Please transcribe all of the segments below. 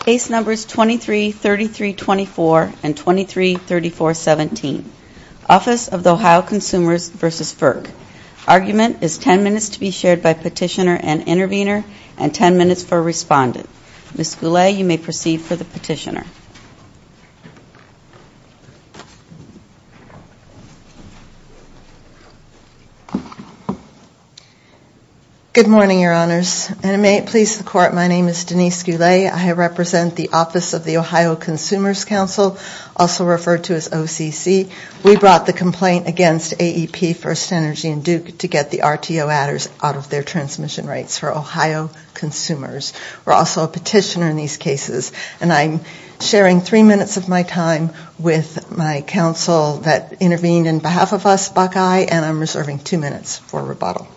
Case Numbers 233324 and 233417, Office of the Ohio Consumers v. FERC. Argument is 10 minutes to be shared by petitioner and intervener and 10 minutes for respondent. Ms. Goulet, you may proceed for the petitioner. Good morning, Your Honors, and may it please the Court, my name is Denise Goulet. I represent the Office of the Ohio Consumers Council, also referred to as OCC. We brought the complaint against AEP, First Energy, and Duke to get the RTO adders out of their transmission rates for Ohio consumers. We're also a petitioner in these cases, and I'm sharing three minutes of my time with my counsel that intervened on behalf of us, Buckeye, and I'm reserving two minutes for rebuttal.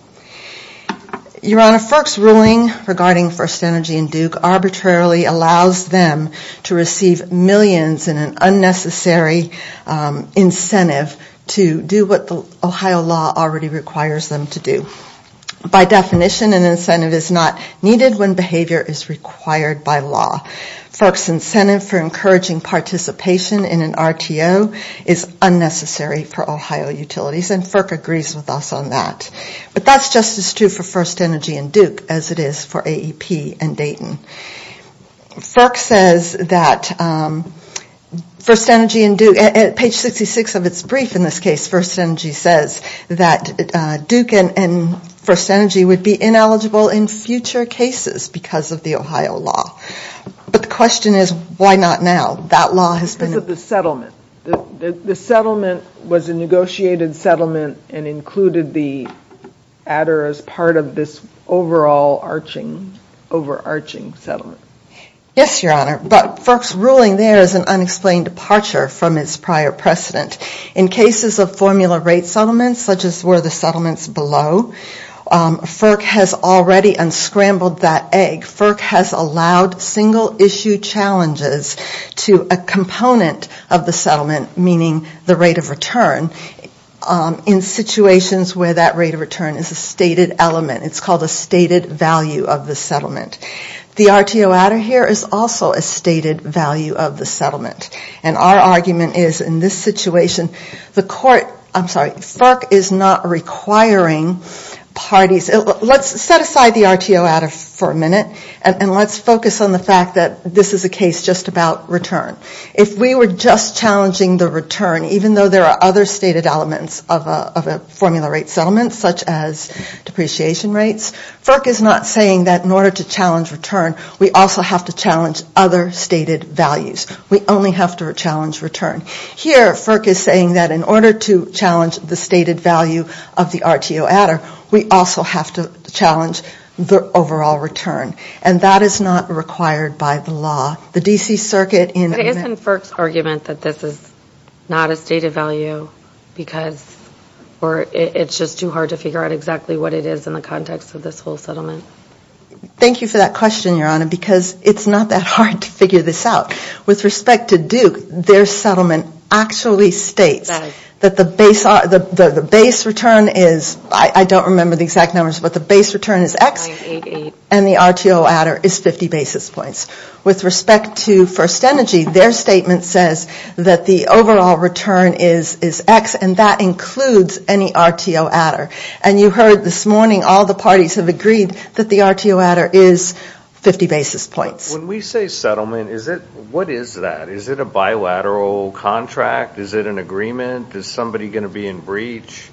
Your Honor, FERC's ruling regarding First Energy and Duke arbitrarily allows them to receive millions in an unnecessary incentive to do what the Ohio law already requires them to do. By definition, an incentive is not needed when behavior is required by law. FERC's incentive for encouraging participation in an RTO is unnecessary for Ohio utilities, and FERC agrees with us on that. But that's just as true for First Energy and Duke as it is for AEP and Dayton. FERC says that First Energy and Duke, at page 66 of its brief in this case, First Energy says that Duke and First Energy would be ineligible in future cases because of the Ohio law. But the question is, why not now? That law has been... The settlement was a negotiated settlement and included the adder as part of this overall overarching settlement. Yes, Your Honor, but FERC's ruling there is an unexplained departure from its prior precedent. In cases of formula rate settlements such as where the settlement's below, FERC has already unscrambled that egg. FERC has allowed single issue challenges to a component of the settlement, meaning the rate of return, in situations where that rate of return is a stated element. It's called a stated value of the settlement. The RTO adder here is also a stated value of the settlement. And our argument is in this situation, the court... I'm sorry, FERC is not requiring parties... Let's set aside the RTO adder for a minute and let's focus on the fact that this is a case just about return. If we were just challenging the return, even though there are other stated elements of a formula rate settlement such as depreciation rates, FERC is not saying that in order to challenge return, we also have to challenge other stated values. We only have to challenge return. Here, FERC is saying that in order to challenge the stated value of the RTO adder, we also have to challenge the overall return. And that is not required by the law. The D.C. Circuit in... But isn't FERC's argument that this is not a stated value because it's just too hard to figure out exactly what it is in the context of this whole settlement? Thank you for that question, Your Honor, because it's not that hard to figure this out. With respect to Duke, their settlement actually states that the base return is... I don't remember the exact numbers, but the base return is X and the RTO adder is 50 basis points. With respect to First Energy, their statement says that the overall return is X and that includes any RTO adder. And you heard this morning, all the parties have agreed that the RTO adder is 50 basis points. When we say settlement, what is that? Is it a bilateral contract? Is it an agreement? Is somebody going to be in breach?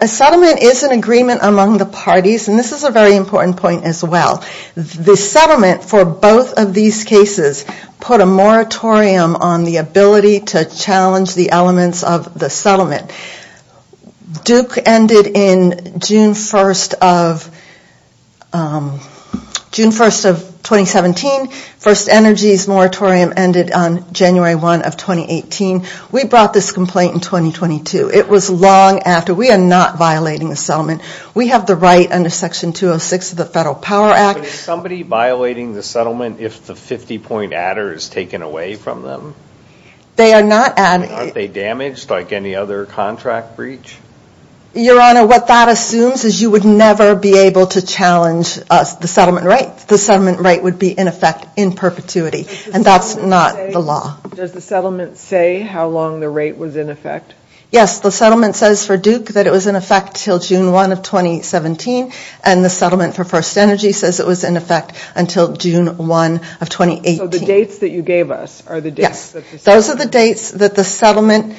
A settlement is an agreement among the parties, and this is a very important point as well. The settlement for both of these cases put a moratorium on the ability to challenge the elements of the settlement. Duke ended in June 1st of 2017. First Energy's moratorium ended on January 1st of 2018. We brought this complaint in 2022. It was long after. We are not violating the settlement. We have the right under Section 206 of the Federal Power Act... But is somebody violating the settlement if the 50 point adder is taken away from them? Aren't they damaged like any other contract breach? Your Honor, what that assumes is you would never be able to challenge the settlement rate. The settlement rate would be in effect in perpetuity, and that's not the law. Does the settlement say how long the rate was in effect? Yes, the settlement says for Duke that it was in effect until June 1st of 2017, and the settlement for First Energy says it was in effect until June 1st of 2018. So the dates that you gave us are the dates? Yes, those are the dates that the settlement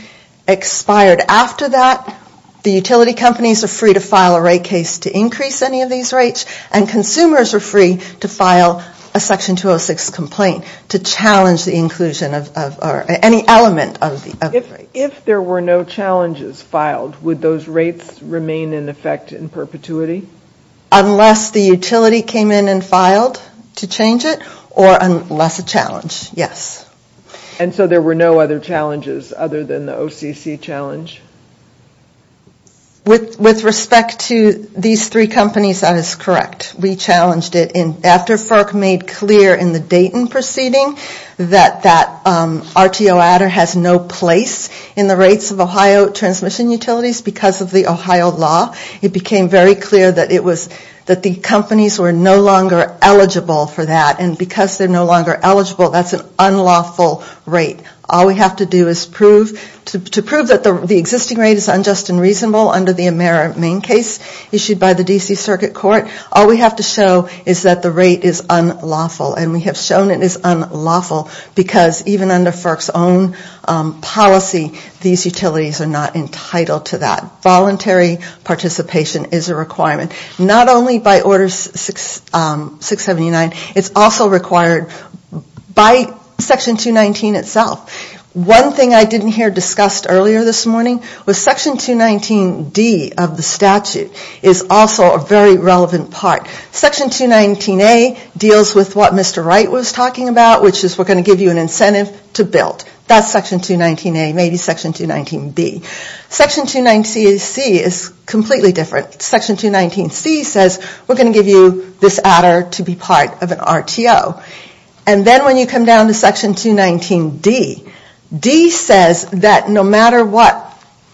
expired. After that, the utility companies are free to file a rate case to increase any of these rates, and consumers are free to file a Section 206 complaint to challenge the inclusion of any element of the rate. If there were no challenges filed, would those rates remain in effect in perpetuity? Unless the utility came in and filed to change it, or unless a challenge, yes. And so there were no other challenges other than the OCC challenge? With respect to these three companies, that is correct. We challenged it. After FERC made clear in the Dayton proceeding that that RTO adder has no place in the rates of Ohio transmission utilities because of the Ohio law, it became very clear that the companies were no longer eligible for that, and because they are no longer eligible, that is an unlawful rate. All we have to do to prove that the existing rate is unjust and reasonable under the AmeriMain case issued by the D.C. Circuit Court, all we have to show is that the rate is unlawful, and we have shown it is unlawful because even under FERC's own policy, these utilities are not entitled to that. Voluntary participation is a requirement. Not only by Order 679, it is also required by Section 219 itself. One thing I didn't hear discussed earlier this morning was Section 219D of the statute is also a very relevant part. Section 219A deals with what Mr. Wright was talking about, which is we are going to give you an incentive to build. That is Section 219A, maybe Section 219B. Section 219C is completely different. Section 219C says we are going to give you this adder to be part of an RTO. And then when you come down to Section 219D, D says that no matter what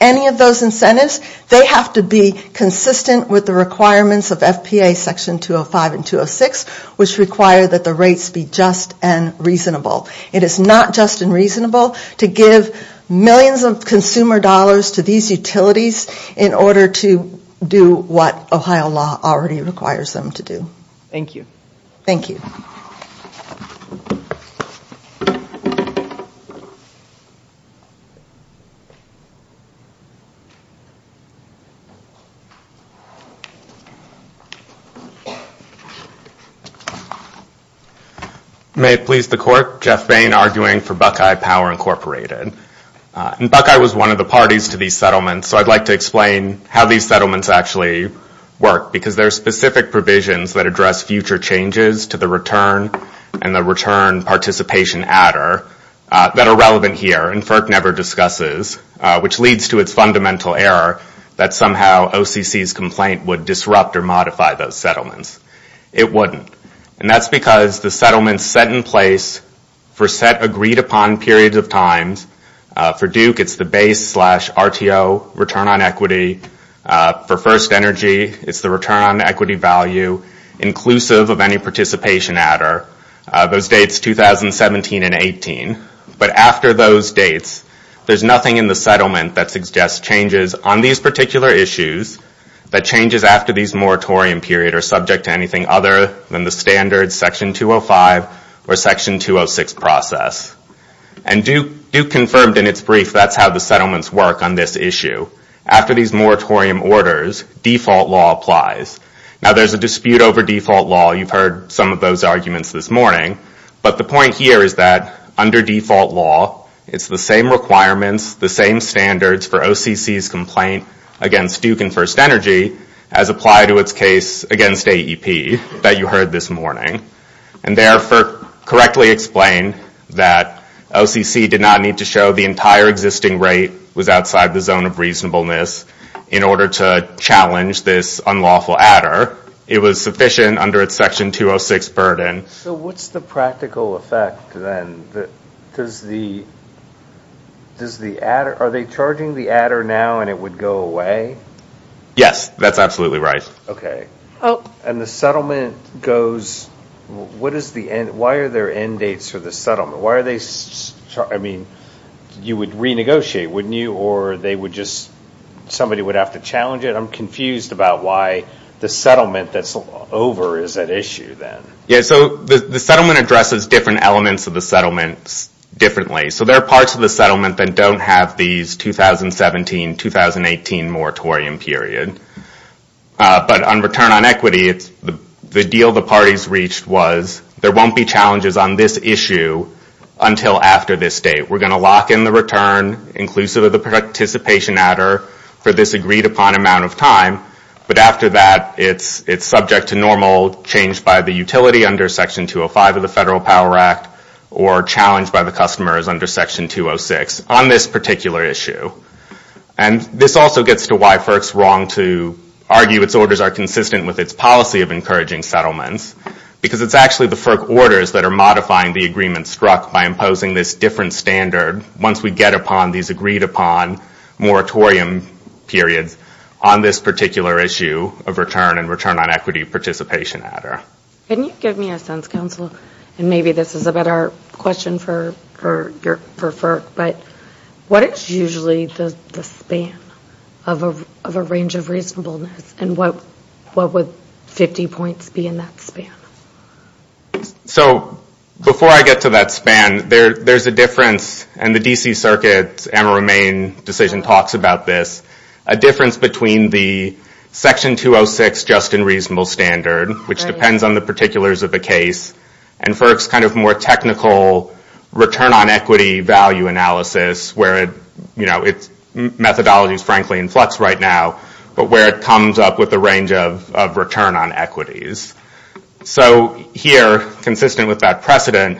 any of those incentives, they have to be consistent with the requirements of FPA Section 205 and 206, which require that the rates be just and reasonable. It is not just and reasonable to give millions of consumer dollars to these utilities in order to do what Ohio law already requires them to do. Thank you. Thank you. May it please the Court. Jeff Bain arguing for Buckeye Power Incorporated. And Buckeye was one of the parties to these settlements, so I would like to explain how these settlements actually work, because there are specific provisions that address future changes to the return and the return participation adder that are relevant here and FERC never discusses, which leads to its fundamental error that somehow OCC's complaint would disrupt or modify those settlements. It wouldn't. And that's because the settlements set in place for set agreed upon periods of times, for Duke it's the base slash RTO return on equity. For First Energy, it's the return on equity value inclusive of any participation adder. Those dates 2017 and 18. But after those dates, there's nothing in the settlement that suggests changes on these particular issues that changes after these moratorium period are subject to anything other than the standard section 205 or section 206 process. And Duke confirmed in its brief that's how the settlements work on this issue. After these moratorium orders, default law applies. Now there's a dispute over default law. You've heard some of those arguments this morning. But the point here is that under default law, it's the same requirements, the same standards for OCC's complaint against Duke and First Energy as apply to its case against AEP that you heard this morning. And therefore, correctly explain that OCC did not need to show the entire existing rate was outside the zone of reasonableness in order to challenge this unlawful adder. It was sufficient under its section 206 burden. So what's the practical effect then? Are they charging the adder now and it would go away? Yes, that's absolutely right. And the settlement goes – why are there end dates for the settlement? Why are they – I mean, you would renegotiate, wouldn't you? Or they would just – somebody would have to challenge it? I'm confused about why the settlement that's over is at issue then. Yeah, so the settlement addresses different elements of the settlement differently. So there are parts of the settlement that don't have these 2017-2018 moratorium period. But on return on equity, the deal the parties reached was there won't be challenges on this issue until after this date. We're going to lock in the return, inclusive of the participation adder, for this agreed upon amount of time. But after that, it's subject to normal change by the utility under section 205 of the Federal Power Act or challenged by the customers under section 206 on this particular issue. And this also gets to why FERC's wrong to argue its orders are consistent with its policy of encouraging settlements because it's actually the FERC orders that are modifying the agreement struck by imposing this different standard once we get upon these agreed upon moratorium periods on this particular issue of return and return on equity participation adder. Can you give me a sense, counsel, and maybe this is a better question for FERC, but what is usually the span of a range of reasonableness? And what would 50 points be in that span? So before I get to that span, there's a difference in the D.C. Circuit's difference between the section 206 just and reasonable standard, which depends on the particulars of the case, and FERC's kind of more technical return on equity value analysis, where its methodology is frankly in flux right now, but where it comes up with a range of return on equities. So here, consistent with that precedent,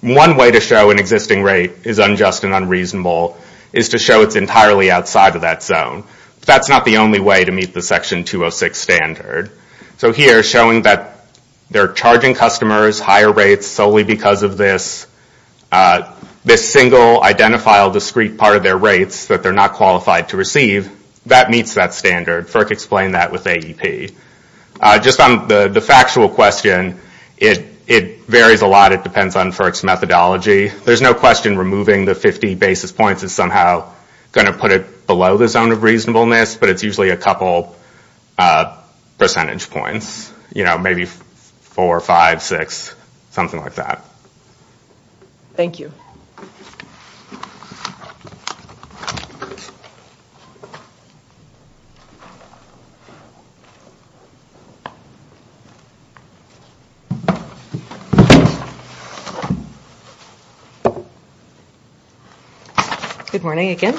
one way to show an existing rate is unjust and unreasonable is to show it's entirely outside of that zone. That's not the only way to meet the section 206 standard. So here, showing that they're charging customers higher rates solely because of this, this single identifiable discrete part of their rates that they're not qualified to receive, that meets that standard. FERC explained that with AEP. Just on the factual question, it varies a lot. It depends on FERC's methodology. There's no question removing the 50 basis points is somehow going to put it below the zone of reasonableness, but it's usually a couple percentage points, maybe four, five, six, something like that. Thank you. Good morning again.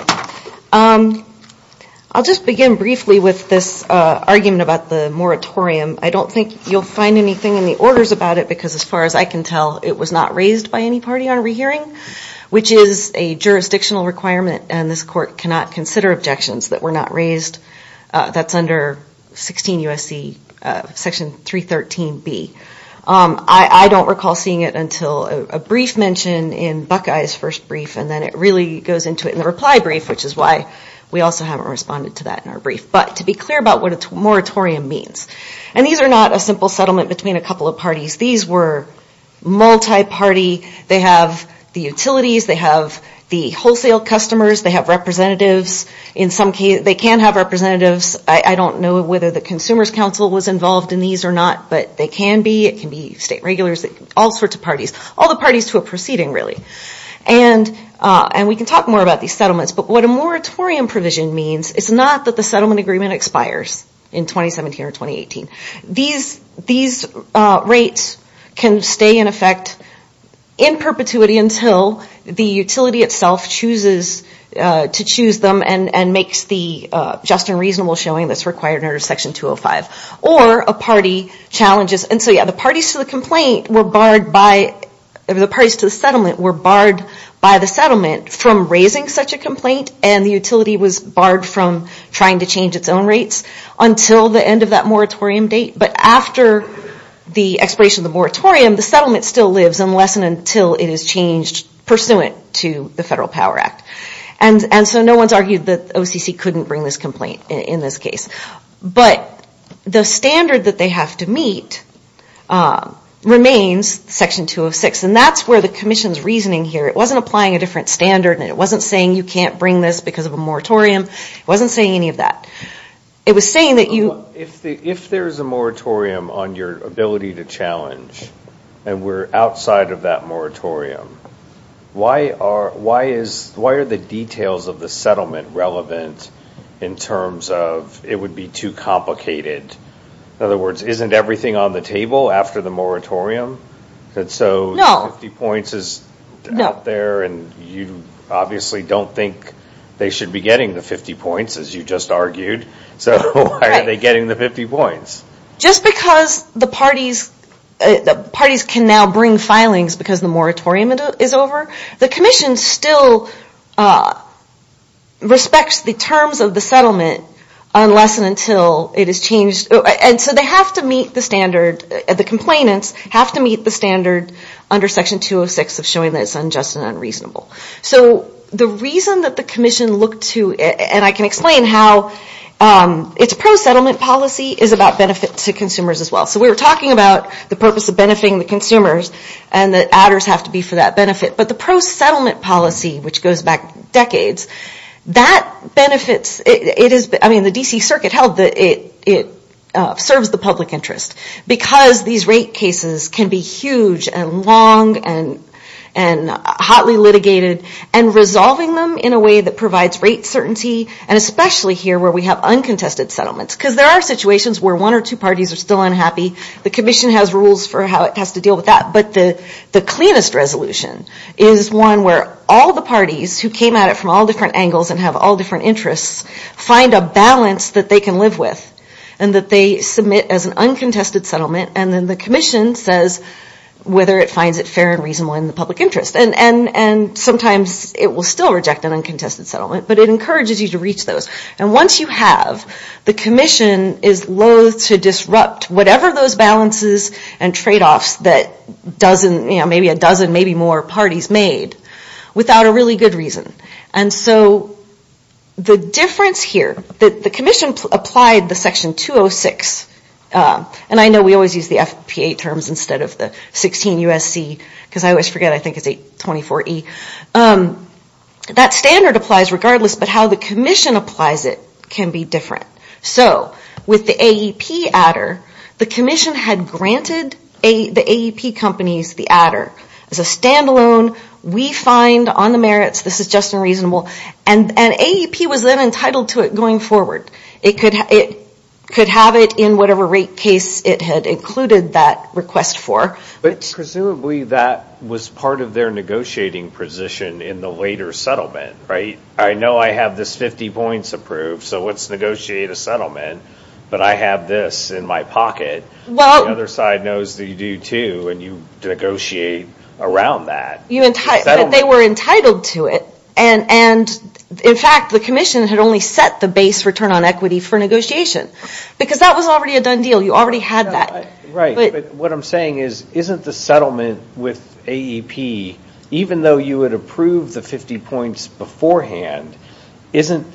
I'll just begin briefly with this argument about the moratorium. I don't think you'll find anything in the orders about it, because as far as I can tell, it was not raised by any party on rehearing, which is a jurisdictional requirement, and this court cannot consider objections that were not raised. That's under Section 313B. I don't recall seeing it until a brief mention in Buckeye's first brief, and then it really goes into it in the reply brief, which is why we also haven't responded to that in our brief. But to be clear about what a moratorium means, and these are not a simple settlement between a couple of parties. These were multi-party. They have the utilities. They have the wholesale customers. They have representatives. They can have representatives. I don't know whether the Consumers Council was involved in these or not, but they can be. It can be state regulars, all sorts of parties, all the parties to a proceeding, really. And we can talk more about these settlements, but what a moratorium provision means is not that the settlement agreement expires in 2017 or 2018. These rates can stay in effect in perpetuity until the utility itself chooses to choose them and makes the just and reasonable showing that's required under Section 205, or a party challenges. And so, yeah, the parties to the settlement were barred by the settlement from raising such a complaint, and the utility was barred from trying to change its own rates until the end of that moratorium date. But after the expiration of the moratorium, the settlement still lives unless and until it is changed pursuant to the Federal Power Act. And so no one's argued that OCC couldn't bring this complaint in this case. But the standard that they have to meet remains Section 206, and that's where the Commission's reasoning here. It wasn't applying a different standard, and it wasn't saying you can't bring this because of a moratorium. It wasn't saying any of that. It was saying that you... If there's a moratorium on your ability to challenge, and we're outside of that moratorium, why are the details of the settlement relevant in terms of it would be too complicated? In other words, isn't everything on the table after the moratorium? So 50 points is out there, and you obviously don't think they should be getting the 50 points, as you just argued. So why are they getting the 50 points? Just because the parties can now bring filings because the moratorium is over, the Commission still respects the terms of the settlement unless and until it is changed. And so they have to meet the standard. The complainants have to meet the standard under Section 206 of showing that it's unjust and unreasonable. So the reason that the Commission looked to... And I can explain how its pro-settlement policy is about benefit to consumers as well. So we were talking about the purpose of benefiting the consumers, and the adders have to be for that benefit. But the pro-settlement policy, which goes back decades, that benefits... I mean, the D.C. Circuit held that it serves the public interest because these rate cases can be huge and long and hotly litigated, and resolving them in a way that provides rate certainty, and especially here where we have uncontested settlements. Because there are situations where one or two parties are still unhappy. The Commission has rules for how it has to deal with that. But the cleanest resolution is one where all the parties who came at it from all different angles and have all different interests find a balance that they can live with, and that they submit as an uncontested settlement, and then the Commission says whether it finds it fair and reasonable in the public interest. And sometimes it will still reject an uncontested settlement, but it encourages you to reach those. And once you have, the Commission is loathe to disrupt whatever those balances and trade-offs that maybe a dozen, maybe more parties made without a really good reason. And so the difference here, the Commission applied the Section 206, and I know we always use the FPA terms instead of the 16 U.S.C., because I always forget, I think it's 824 E. That standard applies regardless, but how the Commission applies it can be different. So with the AEP adder, the Commission had granted the AEP companies the adder. As a standalone, we find on the merits this is just and reasonable. And AEP was then entitled to it going forward. It could have it in whatever rate case it had included that request for. But presumably that was part of their negotiating position in the later settlement, right? I know I have this 50 points approved, so let's negotiate a settlement. But I have this in my pocket. The other side knows that you do, too, and you negotiate around that. But they were entitled to it. And, in fact, the Commission had only set the base return on equity for negotiation, because that was already a done deal. You already had that. Right. But what I'm saying is, isn't the settlement with AEP, even though you had approved the 50 points beforehand, isn't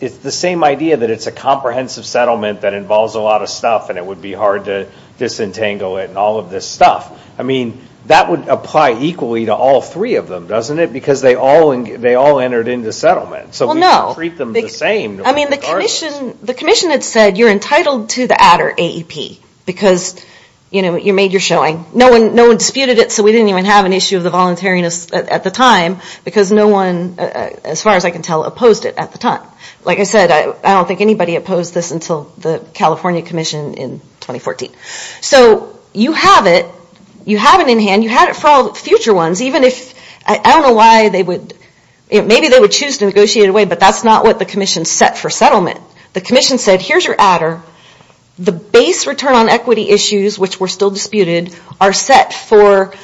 it the same idea that it's a comprehensive settlement that involves a lot of stuff and it would be hard to disentangle it and all of this stuff? I mean, that would apply equally to all three of them, doesn't it? Because they all entered into settlement. So we would treat them the same. I mean, the Commission had said you're entitled to the adder AEP, because, you know, you made your showing. No one disputed it, so we didn't even have an issue of the voluntariness at the time, because no one, as far as I can tell, opposed it at the time. Like I said, I don't think anybody opposed this until the California Commission in 2014. So you have it. You have it in hand. You have it for all future ones, even if, I don't know why they would, maybe they would choose to negotiate it away, but that's not what the Commission set for settlement. The Commission said, here's your adder. The base return on equity issues, which were still disputed, are set for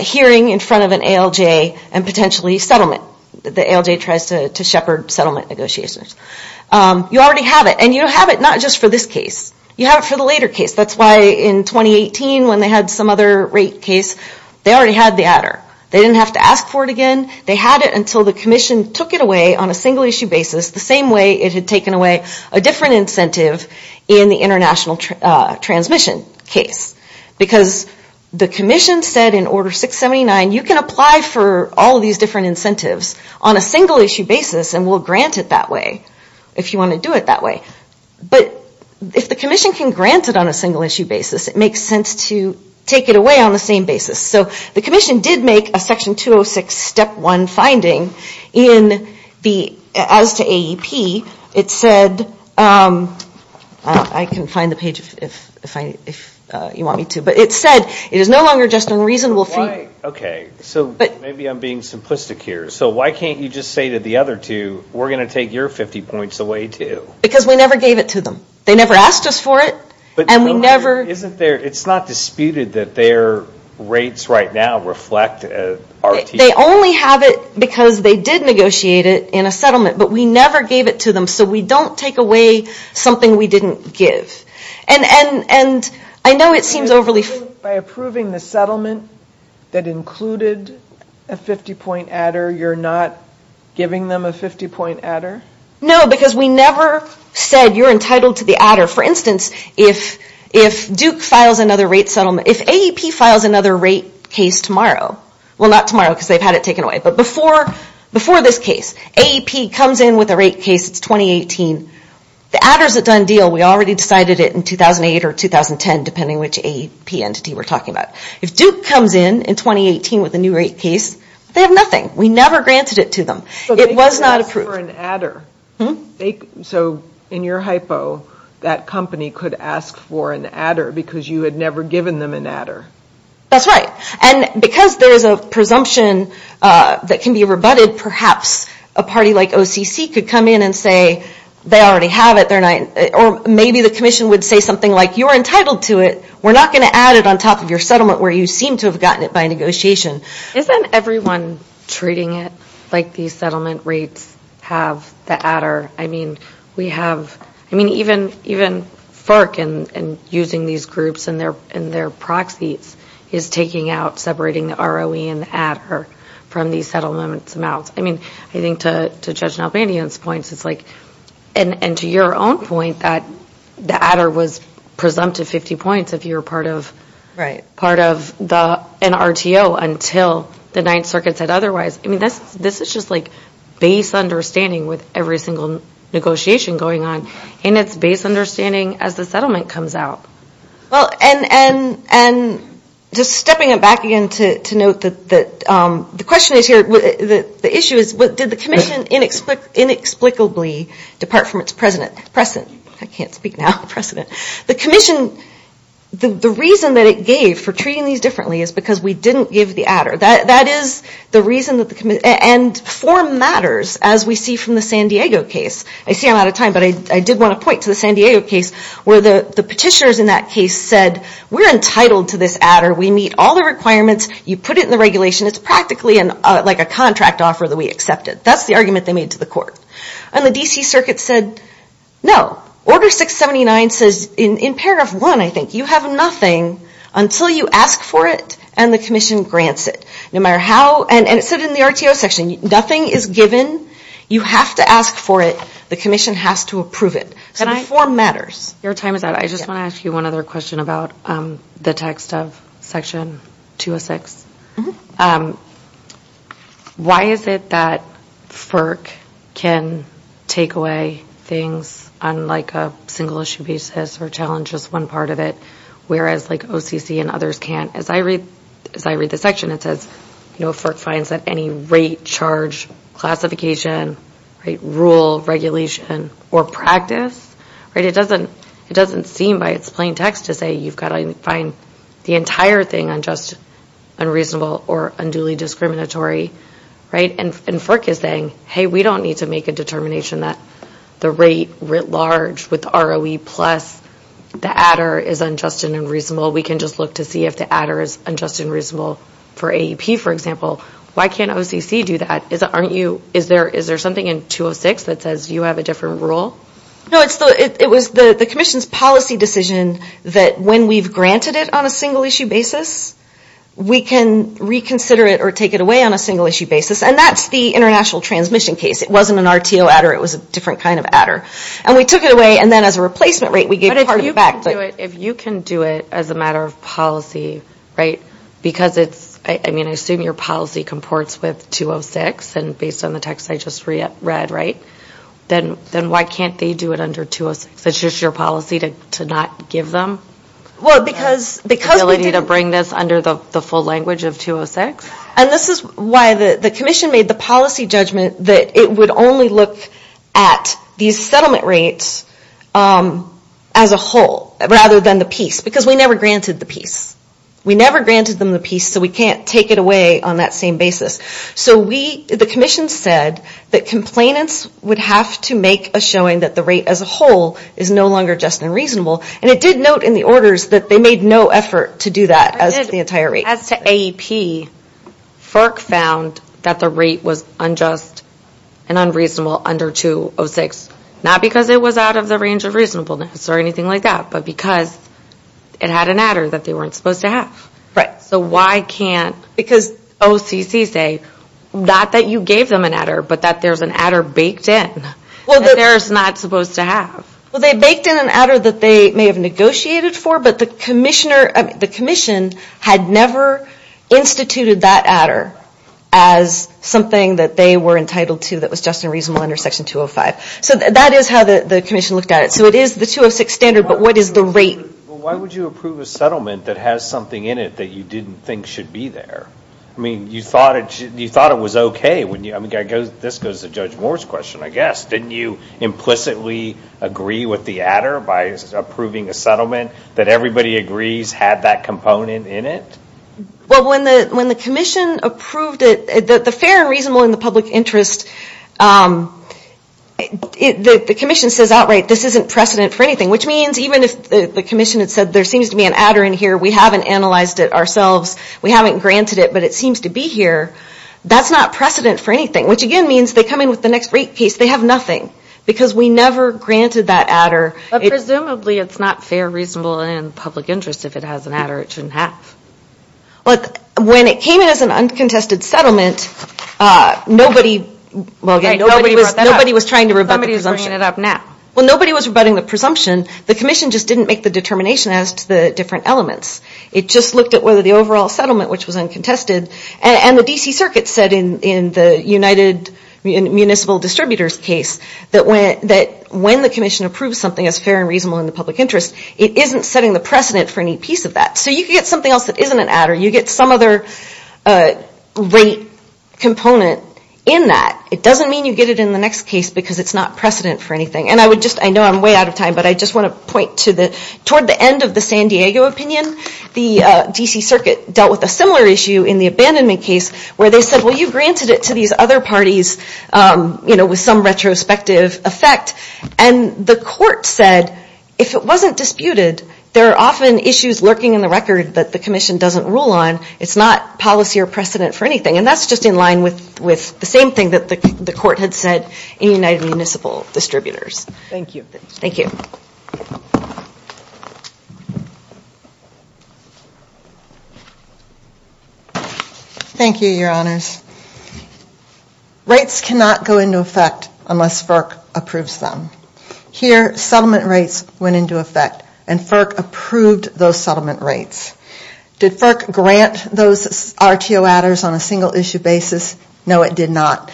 hearing in front of an ALJ and potentially settlement. The ALJ tries to shepherd settlement negotiations. You already have it, and you have it not just for this case. You have it for the later case. That's why in 2018, when they had some other rate case, they already had the adder. They didn't have to ask for it again. They had it until the Commission took it away on a single-issue basis, the same way it had taken away a different incentive in the international transmission case, because the Commission said in Order 679, you can apply for all of these different incentives on a single-issue basis and we'll grant it that way if you want to do it that way. But if the Commission can grant it on a single-issue basis, it makes sense to take it away on the same basis. So the Commission did make a Section 206 Step 1 finding as to AEP. It said, I can find the page if you want me to, but it said it is no longer just a reasonable fee. Okay, so maybe I'm being simplistic here. So why can't you just say to the other two, we're going to take your 50 points away too? Because we never gave it to them. They never asked us for it. It's not disputed that their rates right now reflect RTE. They only have it because they did negotiate it in a settlement, but we never gave it to them so we don't take away something we didn't give. And I know it seems overly... By approving the settlement that included a 50-point adder, you're not giving them a 50-point adder? No, because we never said you're entitled to the adder. For instance, if Duke files another rate settlement, if AEP files another rate case tomorrow, well, not tomorrow because they've had it taken away, but before this case, AEP comes in with a rate case, it's 2018, the adder's a done deal. We already decided it in 2008 or 2010, depending which AEP entity we're talking about. If Duke comes in in 2018 with a new rate case, they have nothing. We never granted it to them. It was not approved. So they could ask for an adder. So in your hypo, that company could ask for an adder because you had never given them an adder? That's right. And because there's a presumption that can be rebutted, perhaps a party like OCC could come in and say they already have it, or maybe the Commission would say something like, you're entitled to it, we're not going to add it on top of your settlement where you seem to have gotten it by negotiation. Isn't everyone treating it like these settlement rates have the adder? I mean, even FERC and using these groups and their proxies is taking out, separating the ROE and the adder from these settlement amounts. I mean, I think to Judge Nalbandian's points, it's like, and to your own point that the adder was presumptive 50 points if you were part of an RTO until the Ninth Circuit said otherwise. I mean, this is just like base understanding with every single negotiation going on, and it's base understanding as the settlement comes out. Well, and just stepping it back again to note that the question is here, the issue is did the Commission inexplicably depart from its precedent? I can't speak now, precedent. The Commission, the reason that it gave for treating these differently is because we didn't give the adder. That is the reason, and form matters as we see from the San Diego case. I see I'm out of time, but I did want to point to the San Diego case where the petitioners in that case said we're entitled to this adder. We meet all the requirements. You put it in the regulation. It's practically like a contract offer that we accepted. That's the argument they made to the court, and the D.C. Circuit said no. Order 679 says in paragraph 1, I think, you have nothing until you ask for it and the Commission grants it. No matter how, and it said in the RTO section, nothing is given. You have to ask for it. The Commission has to approve it. So the form matters. Your time is up. I just want to ask you one other question about the text of Section 206. Why is it that FERC can take away things on, like, a single-issue basis or challenge just one part of it, whereas, like, OCC and others can't? As I read the section, it says, you know, It doesn't seem by its plain text to say you've got to find the entire thing unjust, unreasonable, or unduly discriminatory, right? And FERC is saying, hey, we don't need to make a determination that the rate writ large with ROE plus the adder is unjust and unreasonable. We can just look to see if the adder is unjust and reasonable for AEP, for example. Why can't OCC do that? Is there something in 206 that says you have a different rule? No, it was the Commission's policy decision that when we've granted it on a single-issue basis, we can reconsider it or take it away on a single-issue basis. And that's the international transmission case. It wasn't an RTO adder. It was a different kind of adder. And we took it away, and then as a replacement rate, we gave part of it back. But if you can do it as a matter of policy, right, because it's, I mean, I assume your policy comports with 206, and based on the text I just read, right, then why can't they do it under 206? It's just your policy to not give them the ability to bring this under the full language of 206? And this is why the Commission made the policy judgment that it would only look at these settlement rates as a whole rather than the piece, because we never granted the piece. We never granted them the piece, so we can't take it away on that same basis. So the Commission said that complainants would have to make a showing that the rate as a whole is no longer just and reasonable, and it did note in the orders that they made no effort to do that as to the entire rate. As to AEP, FERC found that the rate was unjust and unreasonable under 206, not because it was out of the range of reasonableness or anything like that, but because it had an adder that they weren't supposed to have. Right. So why can't, because OCC say, not that you gave them an adder, but that there's an adder baked in that they're not supposed to have. Well, they baked in an adder that they may have negotiated for, but the Commission had never instituted that adder as something that they were entitled to that was just and reasonable under Section 205. So that is how the Commission looked at it. So it is the 206 standard, but what is the rate? Well, why would you approve a settlement that has something in it that you didn't think should be there? I mean, you thought it was okay. This goes to Judge Moore's question, I guess. Didn't you implicitly agree with the adder by approving a settlement that everybody agrees had that component in it? Well, when the Commission approved it, the fair and reasonable in the public interest, the Commission says outright, this isn't precedent for anything, which means even if the Commission had said there seems to be an adder in here, we haven't analyzed it ourselves, we haven't granted it, but it seems to be here, that's not precedent for anything, which again means they come in with the next rate case, they have nothing, because we never granted that adder. But presumably it's not fair, reasonable, and in the public interest if it has an adder it shouldn't have. When it came in as an uncontested settlement, nobody was trying to rebut the presumption. Somebody's bringing it up now. Well, nobody was rebutting the presumption, the Commission just didn't make the determination as to the different elements. It just looked at whether the overall settlement, which was uncontested, and the D.C. Circuit said in the United Municipal Distributors case that when the Commission approves something as fair and reasonable in the public interest, it isn't setting the precedent for any piece of that. So you can get something else that isn't an adder, you get some other rate component in that. It doesn't mean you get it in the next case because it's not precedent for anything. And I know I'm way out of time, but I just want to point to the, toward the end of the San Diego opinion, the D.C. Circuit dealt with a similar issue in the abandonment case where they said, well, you granted it to these other parties with some retrospective effect. And the court said, if it wasn't disputed, there are often issues lurking in the record that the Commission doesn't rule on. It's not policy or precedent for anything. And that's just in line with the same thing that the court had said in the United Municipal Distributors. Thank you. Thank you, Your Honors. Rates cannot go into effect unless FERC approves them. Here, settlement rates went into effect and FERC approved those settlement rates. Did FERC grant those RTO adders on a single issue basis? No, it did not.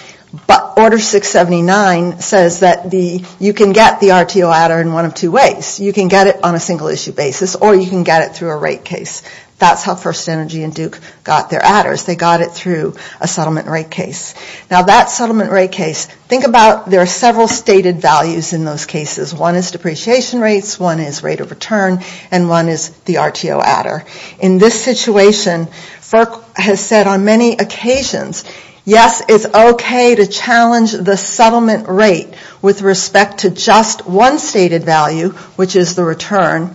But Order 679 says that you can get the RTO adder in one of two ways. You can get it on a single issue basis or you can get it through a rate case. That's how First Energy and Duke got their adders. They got it through a settlement rate case. Now, that settlement rate case, think about there are several stated values in those cases. One is depreciation rates, one is rate of return, and one is the RTO adder. In this situation, FERC has said on many occasions, yes, it's okay to challenge the settlement rate with respect to just one stated value, which is the return.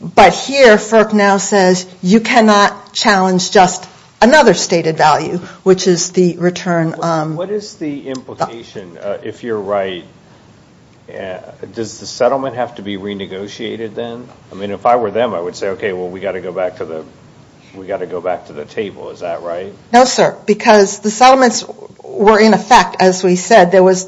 But here, FERC now says you cannot challenge just another stated value, which is the return. What is the implication, if you're right, does the settlement have to be renegotiated then? I mean, if I were them, I would say, okay, well, we've got to go back to the table. Is that right? No, sir, because the settlements were in effect, as we said. There was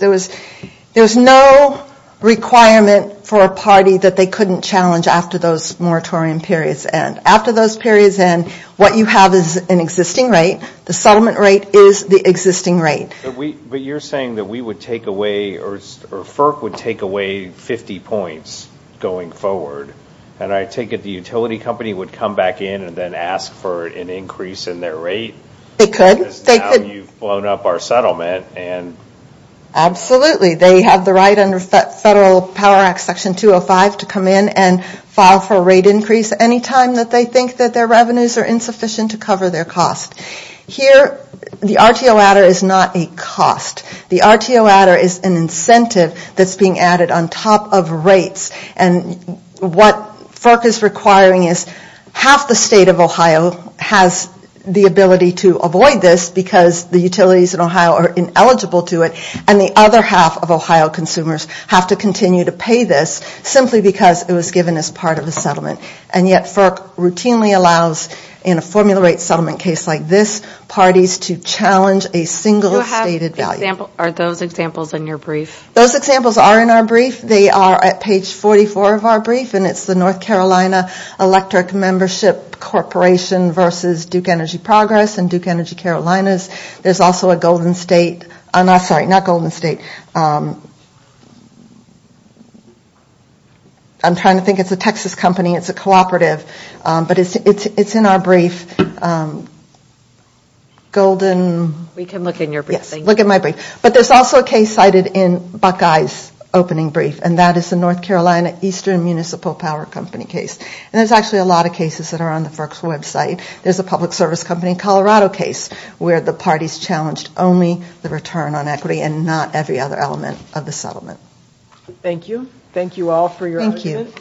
no requirement for a party that they couldn't challenge after those moratorium periods end. After those periods end, what you have is an existing rate. The settlement rate is the existing rate. But you're saying that we would take away, or FERC would take away 50 points going forward, and I take it the utility company would come back in and then ask for an increase in their rate? They could. Because now you've blown up our settlement. Absolutely. They have the right under Federal Power Act Section 205 to come in and file for a rate increase any time that they think that their revenues are insufficient to cover their cost. Here, the RTO adder is not a cost. The RTO adder is an incentive that's being added on top of rates, and what FERC is requiring is half the state of Ohio has the ability to avoid this because the utilities in Ohio are ineligible to it, and the other half of Ohio consumers have to continue to pay this simply because it was given as part of the settlement. And yet FERC routinely allows, in a formula rate settlement case like this, parties to challenge a single stated value. Are those examples in your brief? Those examples are in our brief. They are at page 44 of our brief, and it's the North Carolina Electric Membership Corporation versus Duke Energy Progress and Duke Energy Carolinas. There's also a Golden State, sorry, not Golden State. I'm trying to think. It's a Texas company. It's a cooperative, but it's in our brief. We can look in your brief. Yes, look at my brief. But there's also a case cited in Buckeye's opening brief, and that is the North Carolina Eastern Municipal Power Company case, and there's actually a lot of cases that are on the FERC's website. There's a public service company in Colorado case where the parties challenged only the return on equity and not every other element of the settlement. Thank you. Thank you all for your evidence.